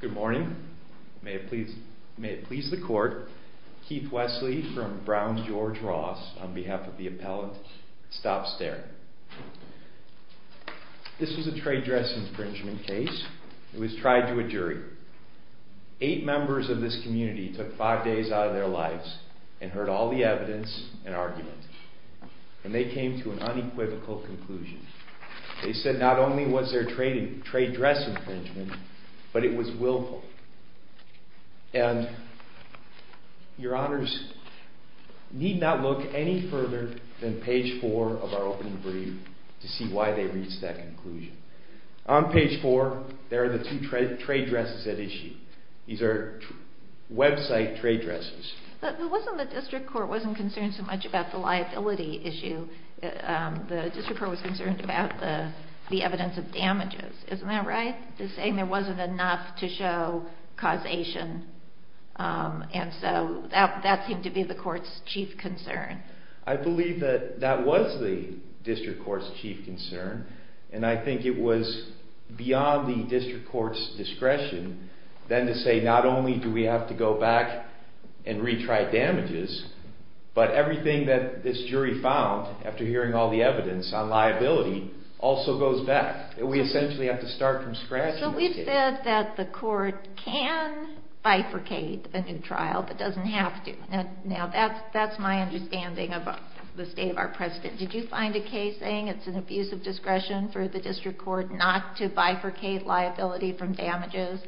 Good morning. May it please the court, Keith Wesley from Brown George Ross on behalf of the appellant Stop Staring! This was a trade dress infringement case. It was tried to a jury. Eight members of this community took five days out of their lives and heard all the evidence and argument. And they came to an unequivocal conclusion. They said not only was there trade dress infringement, but it was willful. And your honors need not look any further than page four of our opening brief to see why they reached that conclusion. On page four, there are the two trade dresses at issue. These are website trade dresses. The district court wasn't concerned so much about the liability issue. The district court was concerned about the evidence of damages. Isn't that right? To say there wasn't enough to show causation. And so that seemed to be the court's chief concern. I believe that that was the district court's chief concern. And I think it was beyond the district court's discretion then to say not only do we have to go back and retry damages, but everything that this jury found after hearing all the evidence on liability also goes back. We essentially have to start from scratch. So we've said that the court can bifurcate a new trial, but doesn't have to. Now that's my understanding of the state of our precedent. Did you find a case saying it's an abuse of discretion for the district court not to bifurcate liability from damages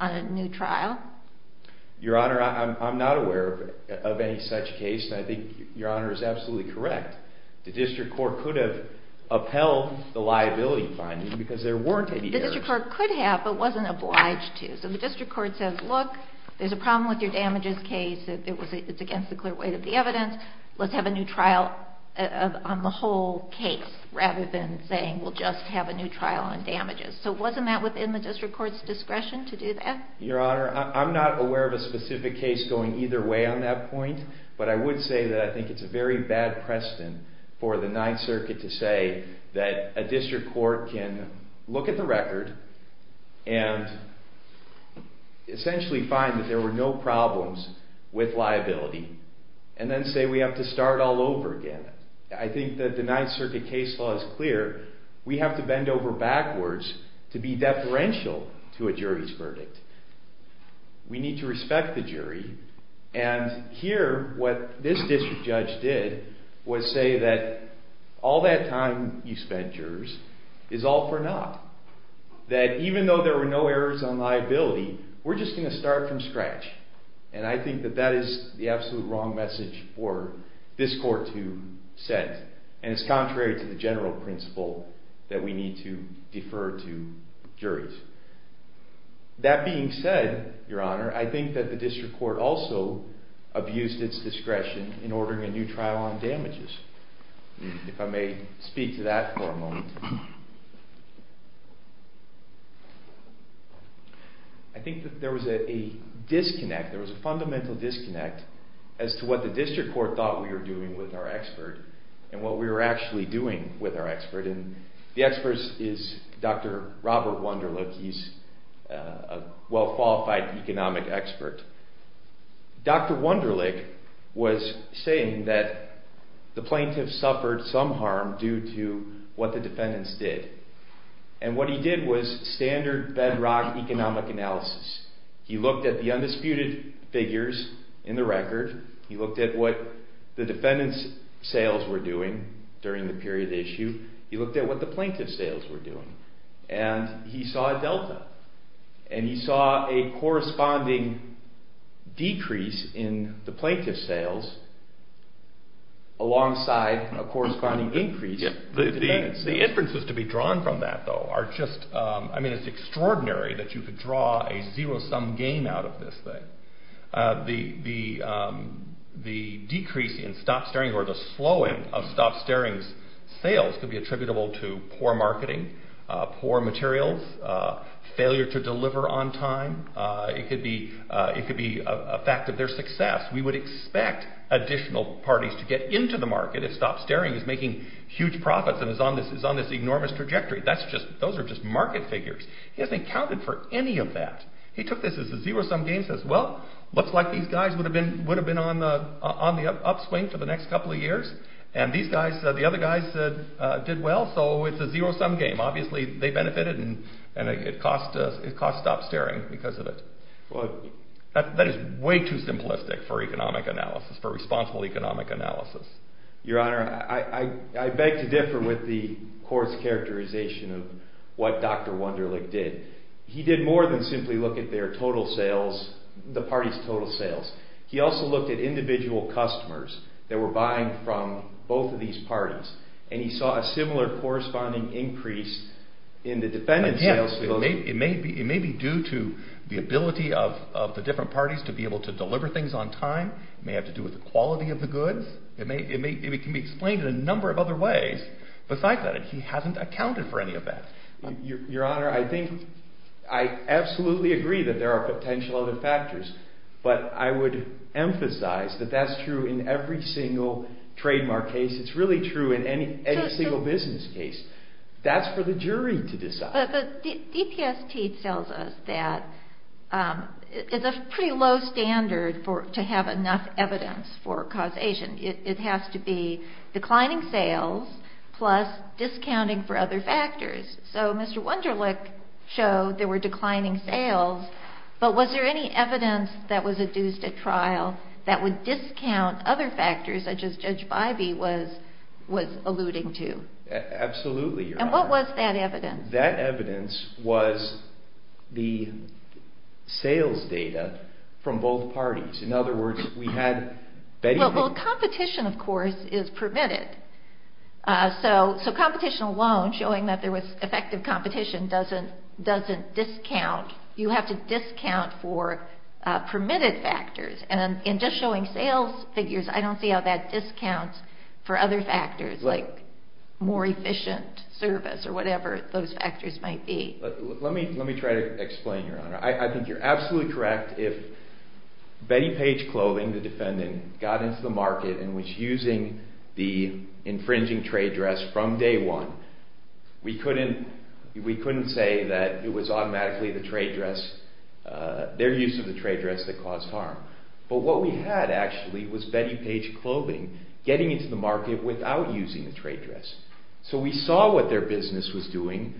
on a new trial? Your Honor, I'm not aware of any such case, and I think Your Honor is absolutely correct. The district court could have upheld the liability finding because there weren't any errors. The district court could have, but wasn't obliged to. So the district court says, look, there's a problem with your damages case. It's against the clear weight of the evidence. Let's have a new trial on the whole case rather than saying we'll just have a new trial on damages. So wasn't that within the district court's discretion to do that? Your Honor, I'm not aware of a specific case going either way on that point, but I would say that I think it's a very bad precedent for the Ninth Circuit to say that a district court can look at the record and essentially find that there were no problems with liability, and then say we have to start all over again. I think that the Ninth Circuit case law is clear. We have to bend over backwards to be deferential to a jury's verdict. We need to respect the jury, and here what this district judge did was say that all that time you spent, jurors, is all for naught. That even though there were no errors on liability, we're just going to start from scratch. And I think that that is the absolute wrong message for this court to send, and it's contrary to the general principle that we need to defer to juries. That being said, Your Honor, I think that the district court also abused its discretion in ordering a new trial on damages. If I may speak to that for a moment. I think that there was a disconnect. There was a fundamental disconnect as to what the district court thought we were doing with our expert and what we were actually doing with our expert, and the expert is Dr. Robert Wunderlich. He's a well-qualified economic expert. Dr. Wunderlich was saying that the plaintiffs suffered some harm due to what the defendants did, and what he did was standard bedrock economic analysis. He looked at the undisputed figures in the record. He looked at what the defendants' sales were doing during the period at issue. He looked at what the plaintiffs' sales were doing, and he saw a delta, and he saw a corresponding decrease in the plaintiffs' sales alongside a corresponding increase in the defendants' sales. We would expect additional parties to get into the market if stop-staring is making huge profits and is on this enormous trajectory. Those are just market figures. He hasn't accounted for any of that. He took this as a zero-sum game and said, well, looks like these guys would have been on the upswing for the next couple of years, and the other guys did well, so it's a zero-sum game. Obviously, they benefited, and it cost stop-staring because of it. That is way too simplistic for economic analysis, for responsible economic analysis. Your Honor, I beg to differ with the court's characterization of what Dr. Wunderlich did. He did more than simply look at the parties' total sales. He also looked at individual customers that were buying from both of these parties, and he saw a similar corresponding increase in the defendants' sales. It may be due to the ability of the different parties to be able to deliver things on time. It may have to do with the quality of the goods. It can be explained in a number of other ways besides that, and he hasn't accounted for any of that. Your Honor, I absolutely agree that there are potential other factors, but I would emphasize that that's true in every single trademark case. It's really true in any single business case. That's for the jury to decide. But DPST tells us that it's a pretty low standard to have enough evidence for causation. It has to be declining sales plus discounting for other factors. So Mr. Wunderlich showed there were declining sales, but was there any evidence that was adduced at trial that would discount other factors, such as Judge Bivey was alluding to? Absolutely, Your Honor. And what was that evidence? That evidence was the sales data from both parties. In other words, we had Betty... Well, competition, of course, is permitted. So competition alone, showing that there was effective competition, doesn't discount. You have to discount for permitted factors. And in just showing sales figures, I don't see how that discounts for other factors, like more efficient service or whatever those factors might be. Let me try to explain, Your Honor. I think you're absolutely correct if Betty Page Clothing, the defendant, got into the market and was using the infringing trade dress from day one, we couldn't say that it was automatically their use of the trade dress that caused harm. But what we had, actually, was Betty Page Clothing getting into the market without using the trade dress. So we saw what their business was doing,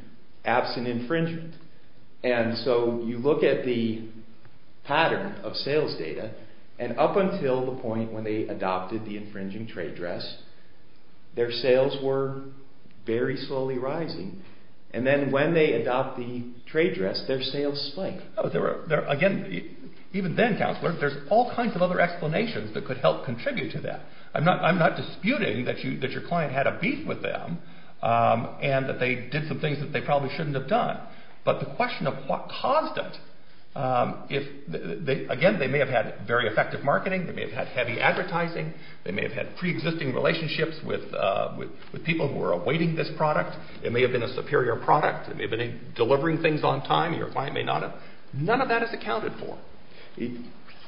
absent infringement. And so you look at the pattern of sales data, and up until the point when they adopted the infringing trade dress, their sales were very slowly rising. And then when they adopted the trade dress, their sales spiked. Again, even then, Counselor, there's all kinds of other explanations that could help contribute to that. I'm not disputing that your client had a beef with them and that they did some things that they probably shouldn't have done. But the question of what caused it... Again, they may have had very effective marketing. They may have had heavy advertising. They may have had pre-existing relationships with people who were awaiting this product. It may have been a superior product. It may have been delivering things on time. Your client may not have... None of that is accounted for.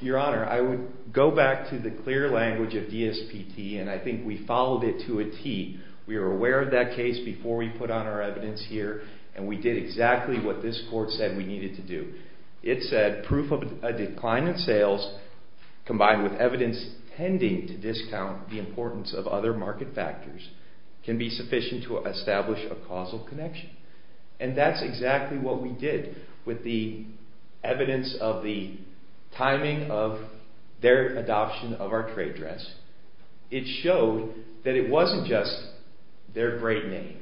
Your Honor, I would go back to the clear language of DSPT, and I think we followed it to a T. We were aware of that case before we put on our evidence here, and we did exactly what this Court said we needed to do. It said proof of a decline in sales combined with evidence tending to discount the importance of other market factors can be sufficient to establish a causal connection. And that's exactly what we did with the evidence of the timing of their adoption of our trade dress. It showed that it wasn't just their great name.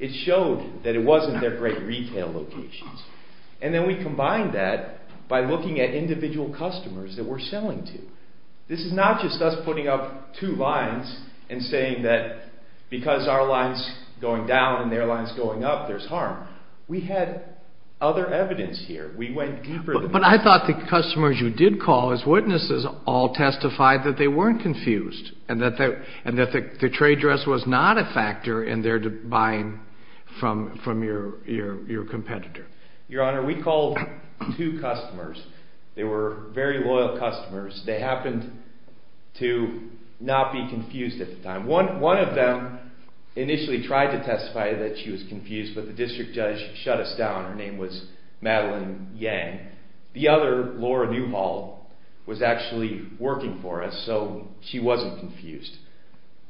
It showed that it wasn't their great retail locations. And then we combined that by looking at individual customers that we're selling to. This is not just us putting up two lines and saying that because our line's going down and their line's going up, there's harm. We had other evidence here. We went deeper than that. But I thought the customers you did call as witnesses all testified that they weren't confused and that the trade dress was not a factor in their buying from your competitor. Your Honor, we called two customers. They were very loyal customers. They happened to not be confused at the time. One of them initially tried to testify that she was confused, but the district judge shut us down. Her name was Madeline Yang. The other, Laura Newhall, was actually working for us, so she wasn't confused.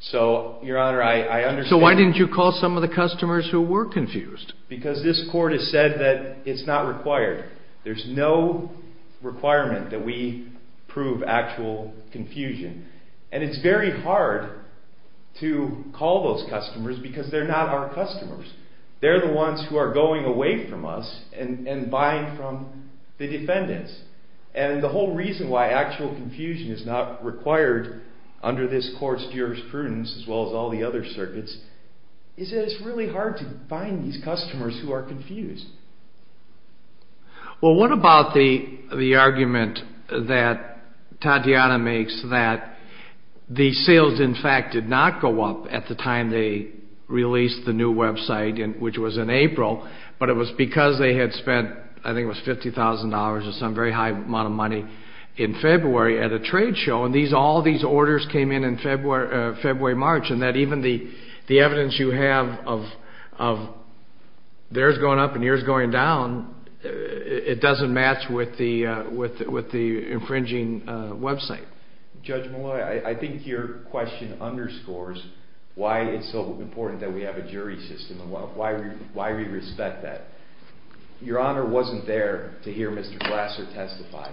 So, Your Honor, I understand... So why didn't you call some of the customers who were confused? Because this court has said that it's not required. There's no requirement that we prove actual confusion. And it's very hard to call those customers because they're not our customers. They're the ones who are going away from us and buying from the defendants. And the whole reason why actual confusion is not required under this court's jurisprudence, as well as all the other circuits, is that it's really hard to find these customers who are confused. Well, what about the argument that Tatiana makes that the sales, in fact, did not go up at the time they released the new website, which was in April, but it was because they had spent, I think it was $50,000 or some very high amount of money in February at a trade show. And all these orders came in in February, March, and that even the evidence you have of theirs going up and yours going down, it doesn't match with the infringing website. Judge Malloy, I think your question underscores why it's so important that we have a jury system and why we respect that. Your Honor wasn't there to hear Mr. Glasser testify.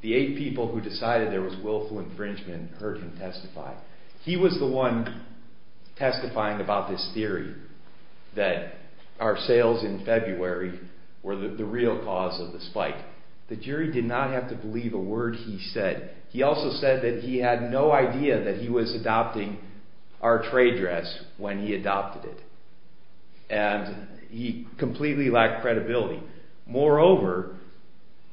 The eight people who decided there was willful infringement heard him testify. He was the one testifying about this theory that our sales in February were the real cause of the spike. The jury did not have to believe a word he said. He also said that he had no idea that he was adopting our trade dress when he adopted it, and he completely lacked credibility. Moreover,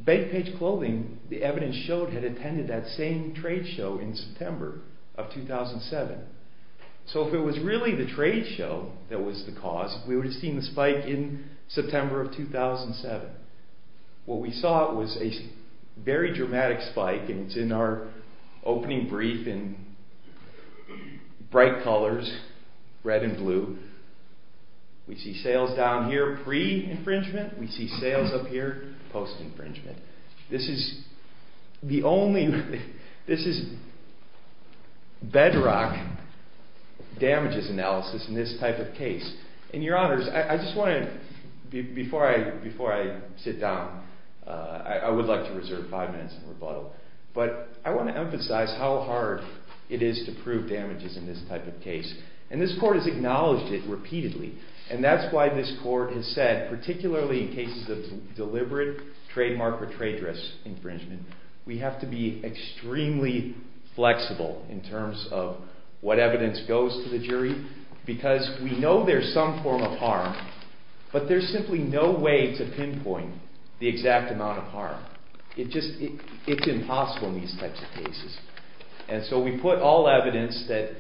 Bankpage Clothing, the evidence showed, had attended that same trade show in September of 2007. So if it was really the trade show that was the cause, we would have seen the spike in September of 2007. What we saw was a very dramatic spike, and it's in our opening brief in bright colors, red and blue. We see sales down here pre-infringement. We see sales up here post-infringement. This is bedrock damages analysis in this type of case. And your Honors, I just want to, before I sit down, I would like to reserve five minutes in rebuttal, but I want to emphasize how hard it is to prove damages in this type of case. And this court has acknowledged it repeatedly, and that's why this court has said, particularly in cases of deliberate trademark or trade dress infringement, we have to be extremely flexible in terms of what evidence goes to the jury, because we know there's some form of harm, but there's simply no way to pinpoint the exact amount of harm. It's impossible in these types of cases. And so we put all evidence that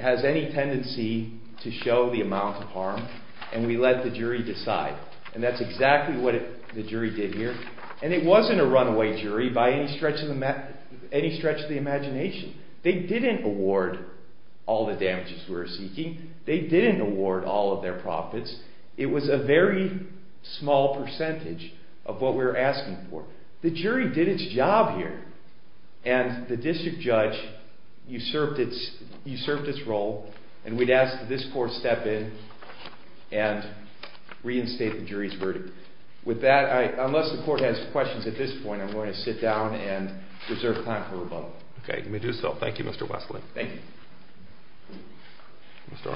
has any tendency to show the amount of harm, and we let the jury decide. And that's exactly what the jury did here. And it wasn't a runaway jury by any stretch of the imagination. They didn't award all the damages we were seeking. They didn't award all of their profits. It was a very small percentage of what we were asking for. The jury did its job here, and the district judge usurped its role, and we'd ask that this court step in and reinstate the jury's verdict. With that, unless the court has questions at this point, I'm going to sit down and reserve time for rebuttal. Okay. Let me do so. Thank you, Mr. Wesley. Thank you. Good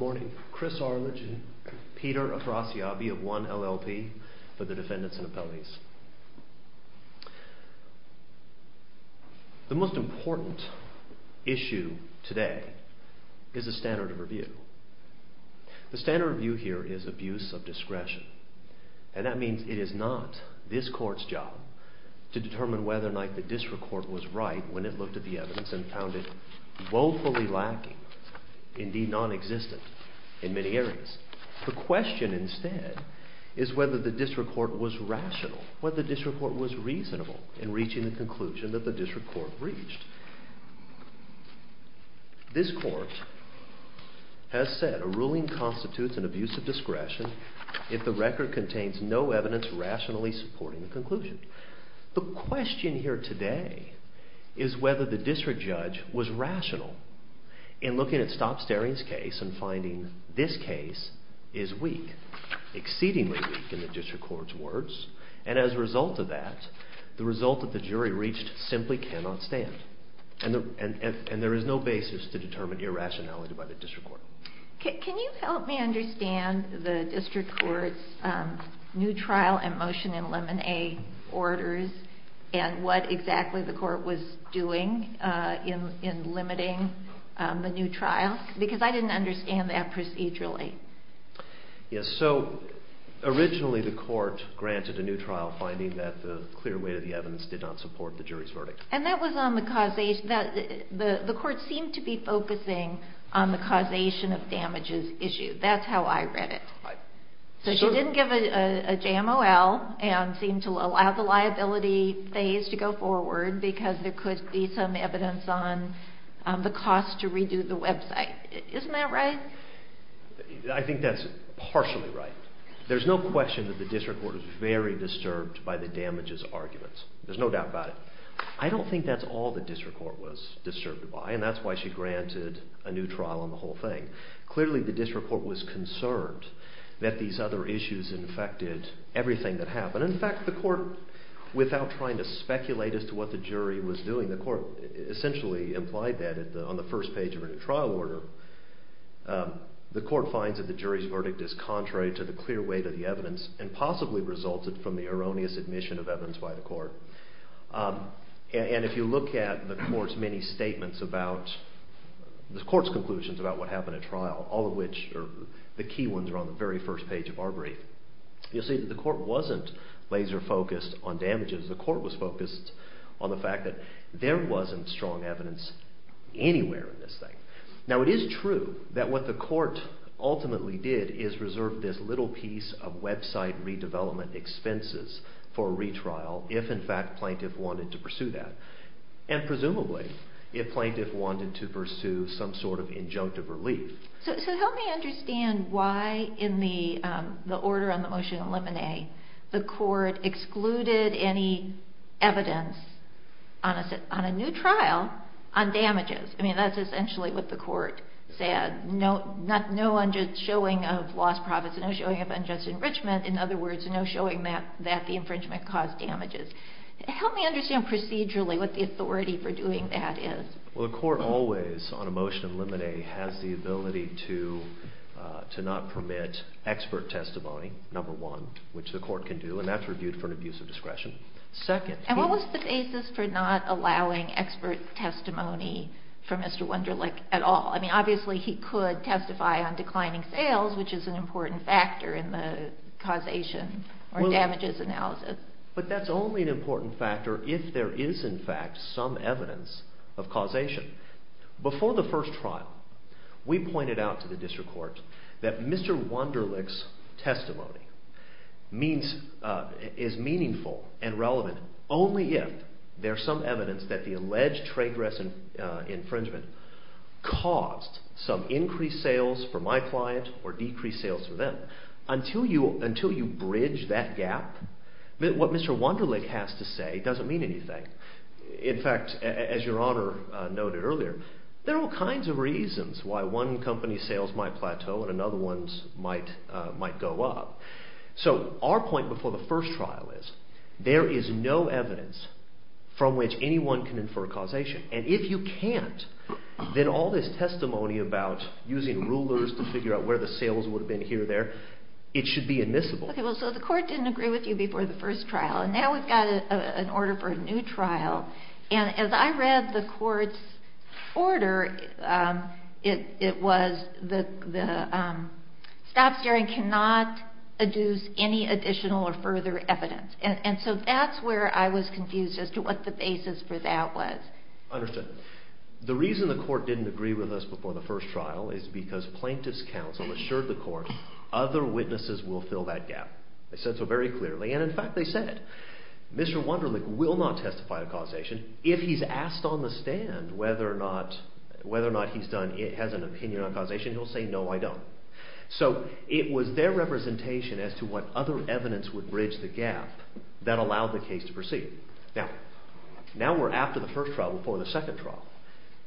morning. Chris Arledge and Peter Acrasiabi of One LLP for the defendants and appellees. The most important issue today is the standard of review. The standard of review here is abuse of discretion, and that means it is not this court's job to determine whether or not the district court was right when it looked at the evidence and found it woefully lacking, indeed nonexistent, in many areas. The question instead is whether the district court was rational, whether the district court was reasonable in reaching the conclusion that the district court reached. This court has said a ruling constitutes an abuse of discretion if the record contains no evidence rationally supporting the conclusion. The question here today is whether the district judge was rational in looking at Stop Staring's case and finding this case is weak, exceedingly weak in the district court's words, and as a result of that, the result that the jury reached simply cannot stand, and there is no basis to determine irrationality by the district court. Can you help me understand the district court's new trial and motion in Lemon A. Orders and what exactly the court was doing in limiting the new trial? Because I didn't understand that procedurally. Yes, so originally the court granted a new trial finding that the clear weight of the evidence did not support the jury's verdict. And that was on the causation. The court seemed to be focusing on the causation of damages issue. That's how I read it. So she didn't give a JMOL and seemed to allow the liability phase to go forward because there could be some evidence on the cost to redo the website. Isn't that right? I think that's partially right. There's no question that the district court was very disturbed by the damages arguments. There's no doubt about it. I don't think that's all the district court was disturbed by, and that's why she granted a new trial on the whole thing. The court finds that the jury's verdict is contrary to the clear weight of the evidence and possibly resulted from the erroneous admission of evidence by the court. And if you look at the court's many statements about, the court's conclusions about what happened at trial, all of which are the key ones are on the very first page of our brief, you'll see that the court wasn't laser focused on damages. The court was focused on the fact that there wasn't strong evidence anywhere in this thing. Now it is true that what the court ultimately did is reserve this little piece of website redevelopment expenses for a retrial if in fact plaintiff wanted to pursue that. And presumably if plaintiff wanted to pursue some sort of injunctive relief. So help me understand why in the order on the motion of limine, the court excluded any evidence on a new trial on damages. I mean that's essentially what the court said. No showing of lost profits, no showing of unjust enrichment, in other words no showing that the infringement caused damages. Help me understand procedurally what the authority for doing that is. Well the court always on a motion of limine has the ability to not permit expert testimony, number one, which the court can do and that's reviewed for an abuse of discretion. And what was the basis for not allowing expert testimony for Mr. Wunderlich at all? I mean obviously he could testify on declining sales which is an important factor in the causation or damages analysis. But that's only an important factor if there is in fact some evidence of causation. Before the first trial we pointed out to the district court that Mr. Wunderlich's testimony is meaningful and relevant only if there is some evidence that the alleged trade dress infringement caused some increased sales for my client or decreased sales for them. Until you bridge that gap, what Mr. Wunderlich has to say doesn't mean anything. In fact, as your honor noted earlier, there are all kinds of reasons why one company's sales might plateau and another one's might go up. So our point before the first trial is there is no evidence from which anyone can infer causation. And if you can't, then all this testimony about using rulers to figure out where the sales would have been here or there, it should be admissible. So the court didn't agree with you before the first trial and now we've got an order for a new trial. And as I read the court's order, it was the stop staring cannot adduce any additional or further evidence. And so that's where I was confused as to what the basis for that was. Understood. The reason the court didn't agree with us before the first trial is because plaintiff's counsel assured the court other witnesses will fill that gap. They said so very clearly, and in fact they said Mr. Wunderlich will not testify to causation. If he's asked on the stand whether or not he has an opinion on causation, he'll say no, I don't. So it was their representation as to what other evidence would bridge the gap that allowed the case to proceed. Now we're after the first trial before the second trial.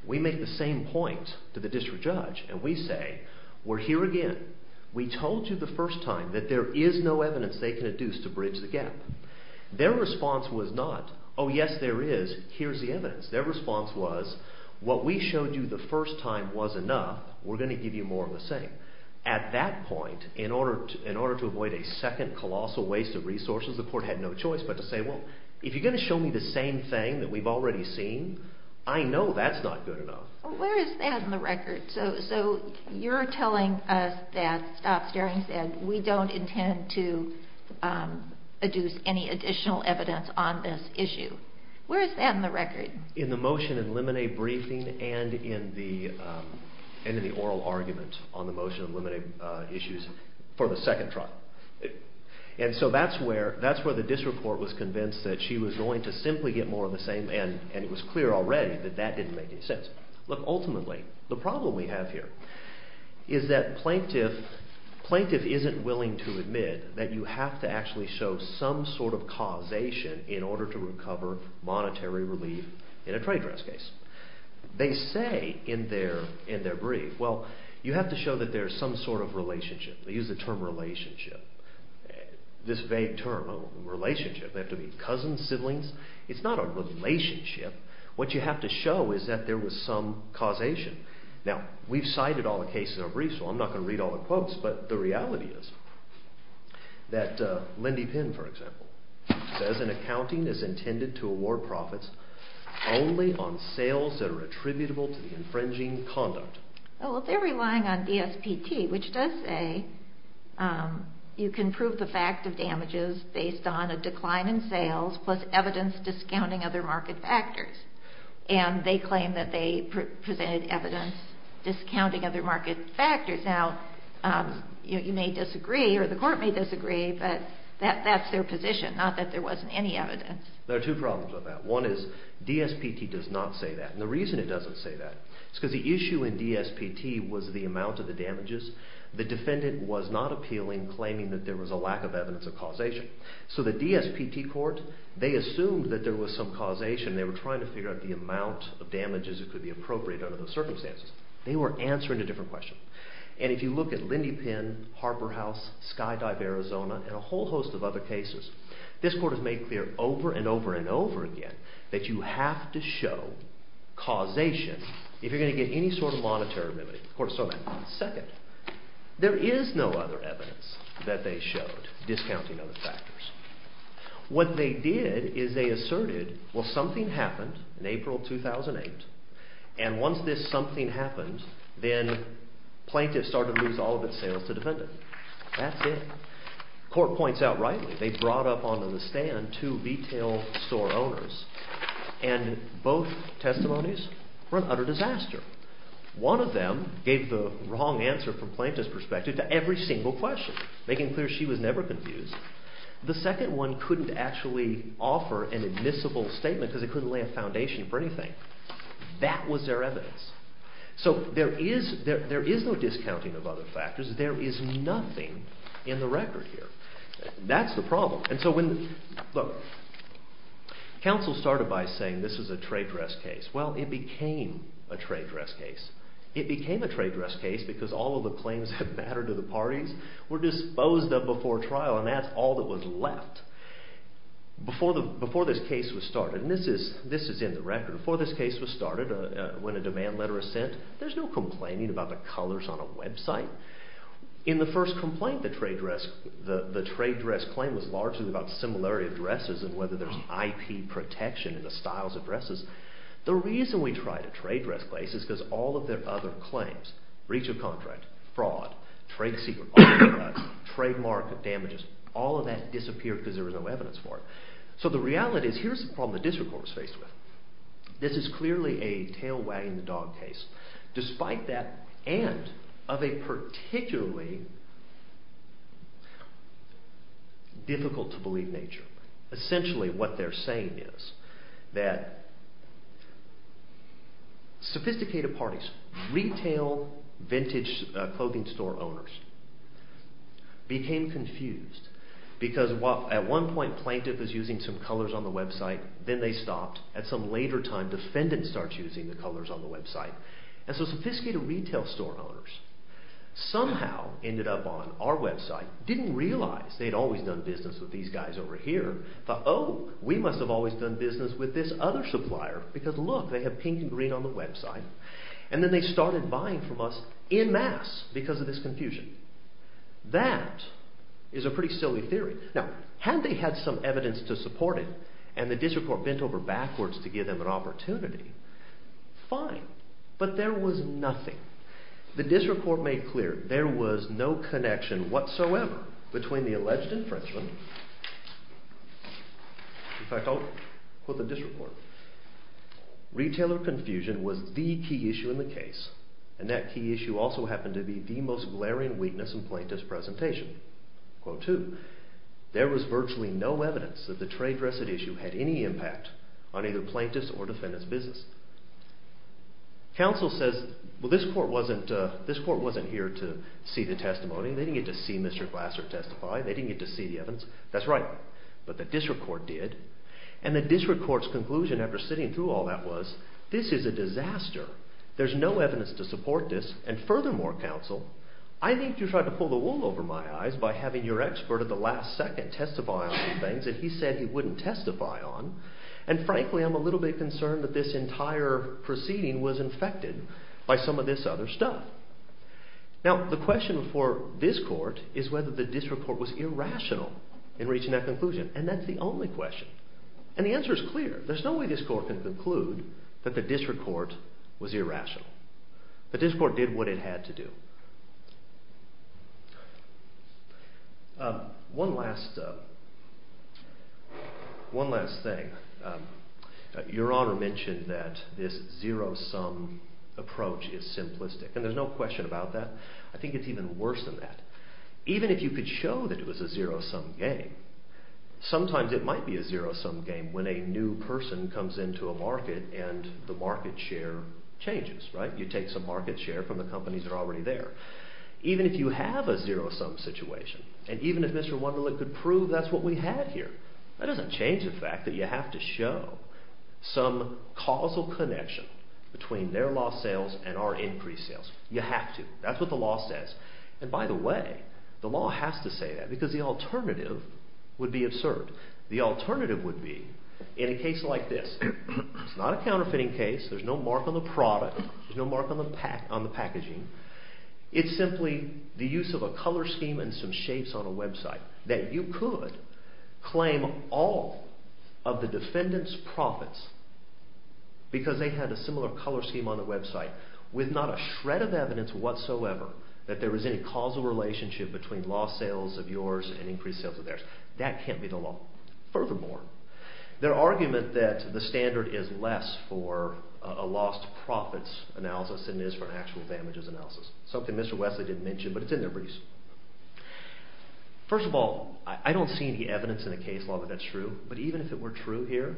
We make the same point to the district judge and we say we're here again. We told you the first time that there is no evidence they can adduce to bridge the gap. Their response was not oh yes there is, here's the evidence. Their response was what we showed you the first time was enough, we're going to give you more of the same. At that point, in order to avoid a second colossal waste of resources, the court had no choice but to say well if you're going to show me the same thing that we've already seen, I know that's not good enough. Where is that in the record? So you're telling us that Stop Staring said we don't intend to adduce any additional evidence on this issue. Where is that in the record? In the motion in limine briefing and in the oral argument on the motion in limine issues for the second trial. And so that's where the district court was convinced that she was going to simply get more of the same and it was clear already that that didn't make any sense. Ultimately, the problem we have here is that plaintiff isn't willing to admit that you have to actually show some sort of causation in order to recover monetary relief in a trade draft case. They say in their brief, well you have to show that there is some sort of relationship. They use the term relationship. This vague term, relationship, they have to mean cousins, siblings. It's not a relationship. What you have to show is that there was some causation. Now, we've cited all the cases in our brief, so I'm not going to read all the quotes, but the reality is that Lindy Pinn, for example, says an accounting is intended to award profits only on sales that are attributable to the infringing conduct. Well, they're relying on DSPT, which does say you can prove the fact of damages based on a decline in sales plus evidence discounting other market factors. And they claim that they presented evidence discounting other market factors. Now, you may disagree, or the court may disagree, but that's their position, not that there wasn't any evidence. There are two problems with that. One is DSPT does not say that. And the reason it doesn't say that is because the issue in DSPT was the amount of the damages. The defendant was not appealing, claiming that there was a lack of evidence of causation. So the DSPT court, they assumed that there was some causation. They were trying to figure out the amount of damages that could be appropriate under those circumstances. They were answering a different question. And if you look at Lindy Pinn, Harper House, Skydive Arizona, and a whole host of other cases, this court has made clear over and over and over again that you have to show causation if you're going to get any sort of monetary remedy. The court saw that. Second, there is no other evidence that they showed discounting other factors. What they did is they asserted, well, something happened in April 2008, and once this something happened, then plaintiffs started to lose all of their sales to the defendant. That's it. Court points out rightly they brought up on the stand two retail store owners, and both testimonies were an utter disaster. One of them gave the wrong answer from plaintiff's perspective to every single question, making clear she was never confused. The second one couldn't actually offer an admissible statement because it couldn't lay a foundation for anything. That was their evidence. So there is no discounting of other factors. There is nothing in the record here. That's the problem. Counsel started by saying this is a trade dress case. Well, it became a trade dress case. It became a trade dress case because all of the claims that mattered to the parties were disposed of before trial, and that's all that was left before this case was started. This is in the record. Before this case was started, when a demand letter is sent, there's no complaining about the colors on a website. In the first complaint, the trade dress claim was largely about similarity of dresses and whether there's IP protection in the styles of dresses. The reason we tried a trade dress case is because all of their other claims, breach of contract, fraud, trade secret, trademark damages, all of that disappeared because there was no evidence for it. So the reality is here's the problem the district court was faced with. This is clearly a tail wagging the dog case. Despite that and of a particularly difficult to believe nature. Essentially what they're saying is that sophisticated parties, retail, vintage clothing store owners became confused because at one point plaintiff was using some colors on the website, then they stopped, at some later time defendant starts using the colors on the website. And so sophisticated retail store owners somehow ended up on our website, didn't realize they'd always done business with these guys over here, thought oh we must have always done business with this other supplier because look they have pink and green on the website, and then they started buying from us in mass because of this confusion. That is a pretty silly theory. Now had they had some evidence to support it, and the district court bent over backwards to give them an opportunity, fine, but there was nothing. The district court made clear there was no connection whatsoever between the alleged infringement, in fact I'll quote the district court. Retailer confusion was the key issue in the case, and that key issue also happened to be the most glaring weakness in plaintiff's presentation. Quote two, there was virtually no evidence that the trade residue issue had any impact on either plaintiff's or defendant's business. Council says, well this court wasn't here to see the testimony, they didn't get to see Mr. Glasser testify, they didn't get to see the evidence, that's right, but the district court did, and the district court's conclusion after sitting through all that was, this is a disaster, there's no evidence to support this, and furthermore council, I need you to try to pull the wool over my eyes by having your expert at the last second testify on some things that he said he wouldn't testify on, and frankly I'm a little bit concerned that this entire proceeding was infected by some of this other stuff. Now the question for this court is whether the district court was irrational in reaching that conclusion, and that's the only question. And the answer is clear, there's no way this court can conclude that the district court was irrational. The district court did what it had to do. One last thing, your honor mentioned that this zero sum approach is simplistic, and there's no question about that, I think it's even worse than that. Even if you could show that it was a zero sum game, sometimes it might be a zero sum game when a new person comes into a market and the market share changes, right? You take some market share from the companies that are already there. Even if you have a zero sum situation, and even if Mr. Wunderlich could prove that's what we had here, that doesn't change the fact that you have to show some causal connection between their lost sales and our increased sales. You have to, that's what the law says. And by the way, the law has to say that, because the alternative would be absurd. The alternative would be in a case like this. It's not a counterfeiting case, there's no mark on the product, there's no mark on the packaging. It's simply the use of a color scheme and some shapes on a website that you could claim all of the defendant's profits because they had a similar color scheme on the website with not a shred of evidence whatsoever that there was any causal relationship between lost sales of yours and increased sales of theirs. That can't be the law. Furthermore, their argument that the standard is less for a lost profits analysis than it is for an actual damages analysis, something Mr. Wesley didn't mention, but it's in there pretty simple. First of all, I don't see any evidence in the case law that that's true, but even if it were true here,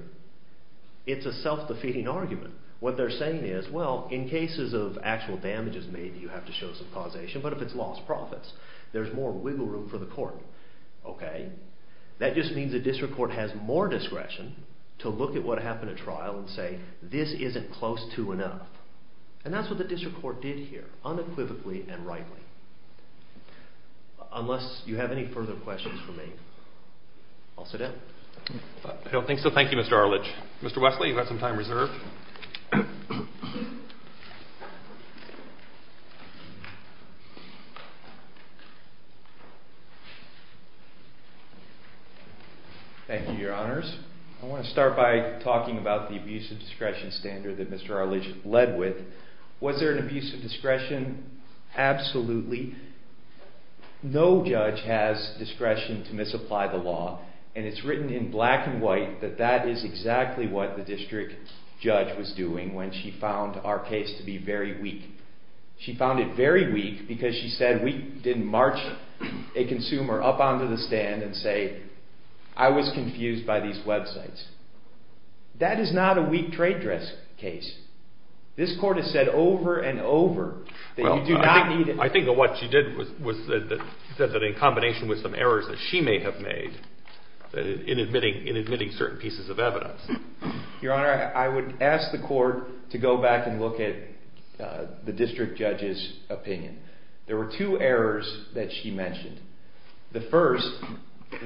it's a self-defeating argument. What they're saying is, well, in cases of actual damages made you have to show some causation, but if it's lost profits, there's more wiggle room for the court. That just means the district court has more discretion to look at what happened at trial and say, this isn't close to enough. And that's what the district court did here, unequivocally and rightly. Unless you have any further questions for me, I'll sit down. I don't think so. Thank you, Mr. Arledge. Mr. Wesley, you've got some time reserved. Thank you, Your Honors. I want to start by talking about the abuse of discretion standard that Mr. Arledge led with. Was there an abuse of discretion? Absolutely. No judge has discretion to misapply the law, and it's written in black and white that that is exactly what the district judge was doing when she found our case to be very weak. She found it very weak because she said we didn't march a consumer up onto the stand and say, I was confused by these websites. That is not a weak trade dress case. This court has said over and over that you do not need... I think that what she did was that in combination with some errors Your Honor, I would ask the court to go back and look at the district judge's opinion. There were two errors that she mentioned. The first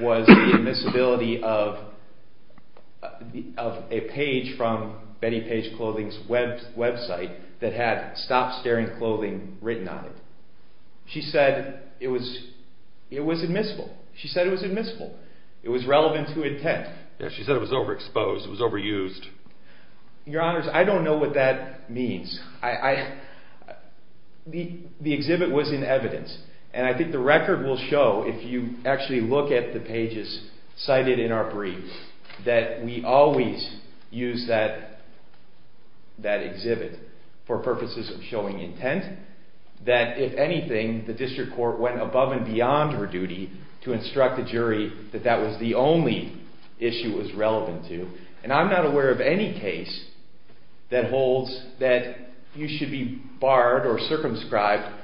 was the admissibility of a page from Betty Page Clothing's website that had stop staring clothing written on it. She said it was admissible. She said it was admissible. It was relevant to intent. She said it was overexposed. It was overused. Your Honors, I don't know what that means. The exhibit was in evidence, and I think the record will show if you actually look at the pages cited in our brief that we always use that exhibit for purposes of showing intent, that if anything, the district court went above and beyond her duty to instruct the jury that that was the only issue it was relevant to. And I'm not aware of any case that holds that you should be barred or circumscribed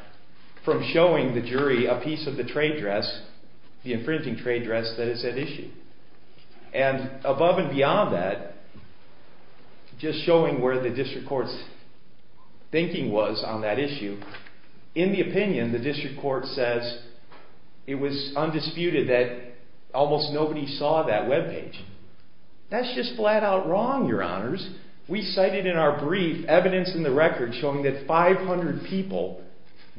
from showing the jury a piece of the trade dress, the infringing trade dress that is at issue. And above and beyond that, just showing where the district court's thinking was on that issue, in the opinion, the district court says it was undisputed that almost nobody saw that webpage. That's just flat out wrong, Your Honors. We cited in our brief evidence in the record showing that 500 people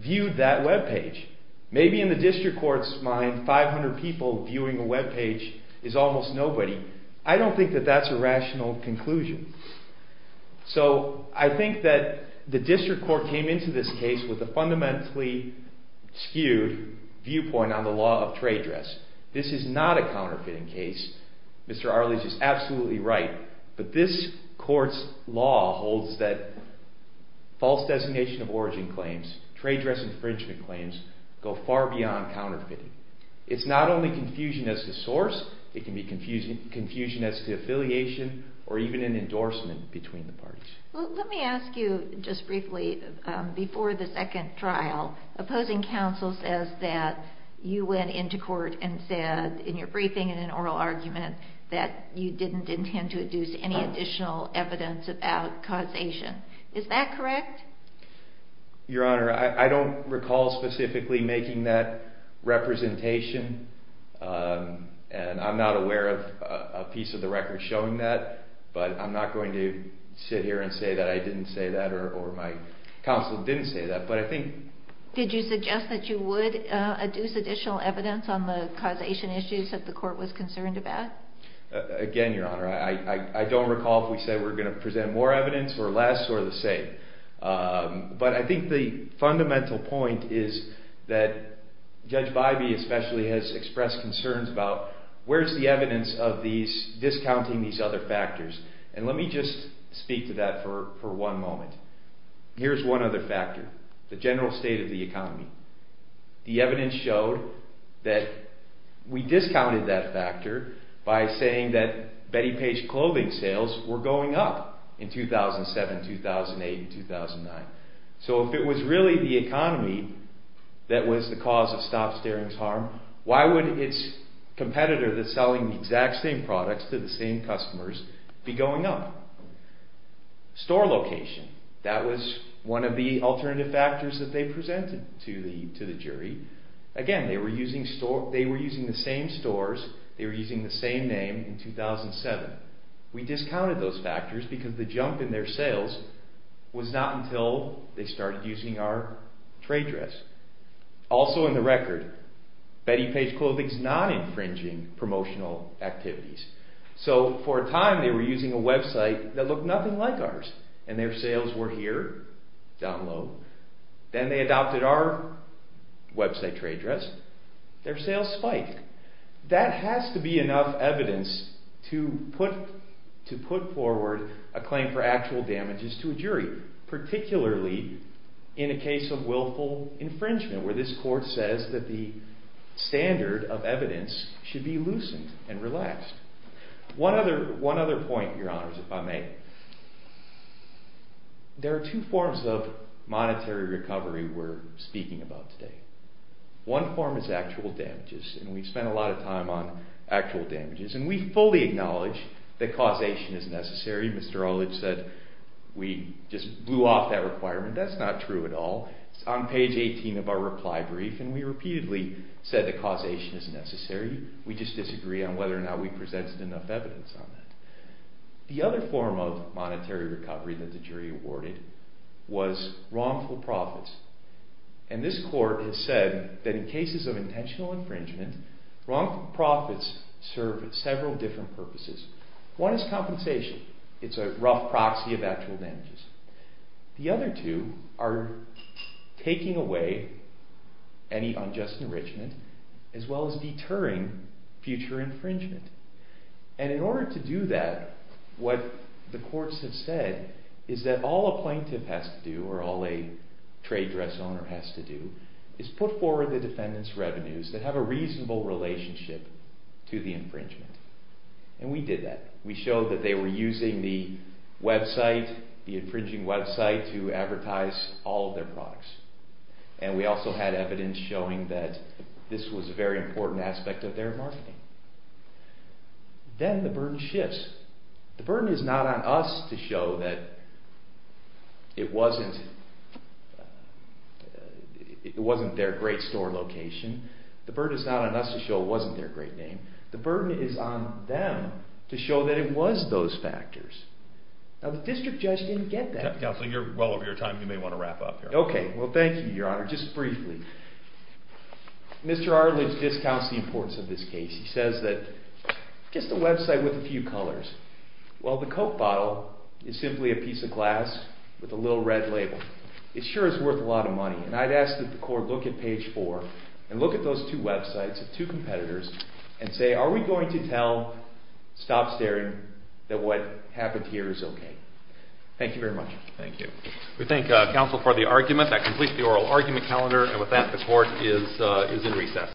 viewed that webpage. Maybe in the district court's mind, 500 people viewing a webpage is almost nobody. I don't think that that's a rational conclusion. So I think that the district court came into this case with a fundamentally skewed viewpoint on the law of trade dress. This is not a counterfeiting case. Mr. Arles is absolutely right. But this court's law holds that false designation of origin claims, trade dress infringement claims, go far beyond counterfeiting. It's not only confusion as to source. It can be confusion as to affiliation or even an endorsement between the parties. Well, let me ask you just briefly, before the second trial, opposing counsel says that you went into court and said in your briefing and in an oral argument that you didn't intend to deduce any additional evidence about causation. Is that correct? Your Honor, I don't recall specifically making that representation. And I'm not aware of a piece of the record showing that. But I'm not going to sit here and say that I didn't say that or my counsel didn't say that. But I think... Did you suggest that you would deduce additional evidence on the causation issues that the court was concerned about? Again, Your Honor, I don't recall if we said we were going to present more evidence or less or the same. But I think the fundamental point is that Judge Bybee especially has expressed concerns about where's the evidence of discounting these other factors. And let me just speak to that for one moment. Here's one other factor, the general state of the economy. The evidence showed that we discounted that factor by saying that So if it was really the economy that was the cause of Stop Staring's harm, why would its competitor that's selling the exact same products to the same customers be going up? Store location. That was one of the alternative factors that they presented to the jury. Again, they were using the same stores. They were using the same name in 2007. We discounted those factors because the jump in their sales was not until they started using our trade dress. Also in the record, Betty Page Clothing is not infringing promotional activities. So for a time they were using a website that looked nothing like ours. And their sales were here, down low. Then they adopted our website trade dress. Their sales spiked. That has to be enough evidence to put forward a claim for actual damages to a jury. Particularly in a case of willful infringement where this court says that the standard of evidence should be loosened and relaxed. One other point, your honors, if I may. There are two forms of monetary recovery we're speaking about today. One form is actual damages. And we've spent a lot of time on actual damages. And we fully acknowledge that causation is necessary. Mr. Olich said we just blew off that requirement. That's not true at all. It's on page 18 of our reply brief. And we repeatedly said that causation is necessary. We just disagree on whether or not we presented enough evidence on that. The other form of monetary recovery that the jury awarded was wrongful profits. And this court has said that in cases of intentional infringement, wrongful profits serve several different purposes. One is compensation. It's a rough proxy of actual damages. The other two are taking away any unjust enrichment as well as deterring future infringement. And in order to do that, what the courts have said is that all a plaintiff has to do, or all a trade dress owner has to do, is put forward the defendant's revenues that have a reasonable relationship to the infringement. And we did that. We showed that they were using the website, the infringing website, to advertise all of their products. And we also had evidence showing that this was a very important aspect of their marketing. Then the burden shifts. The burden is not on us to show that it wasn't their great store location. The burden is not on us to show it wasn't their great name. The burden is on them to show that it was those factors. Now the district judge didn't get that. Counsel, you're well over your time. You may want to wrap up here. Okay. Well, thank you, Your Honor. Just briefly, Mr. Arledge discounts the importance of this case. He says that just a website with a few colors. Well, the Coke bottle is simply a piece of glass with a little red label. It sure is worth a lot of money. And I'd ask that the court look at page four and look at those two websites of two competitors and say, are we going to tell Stop Staring that what happened here is okay? Thank you very much. Thank you. We thank counsel for the argument. That completes the oral argument calendar, and with that, the court is in recess.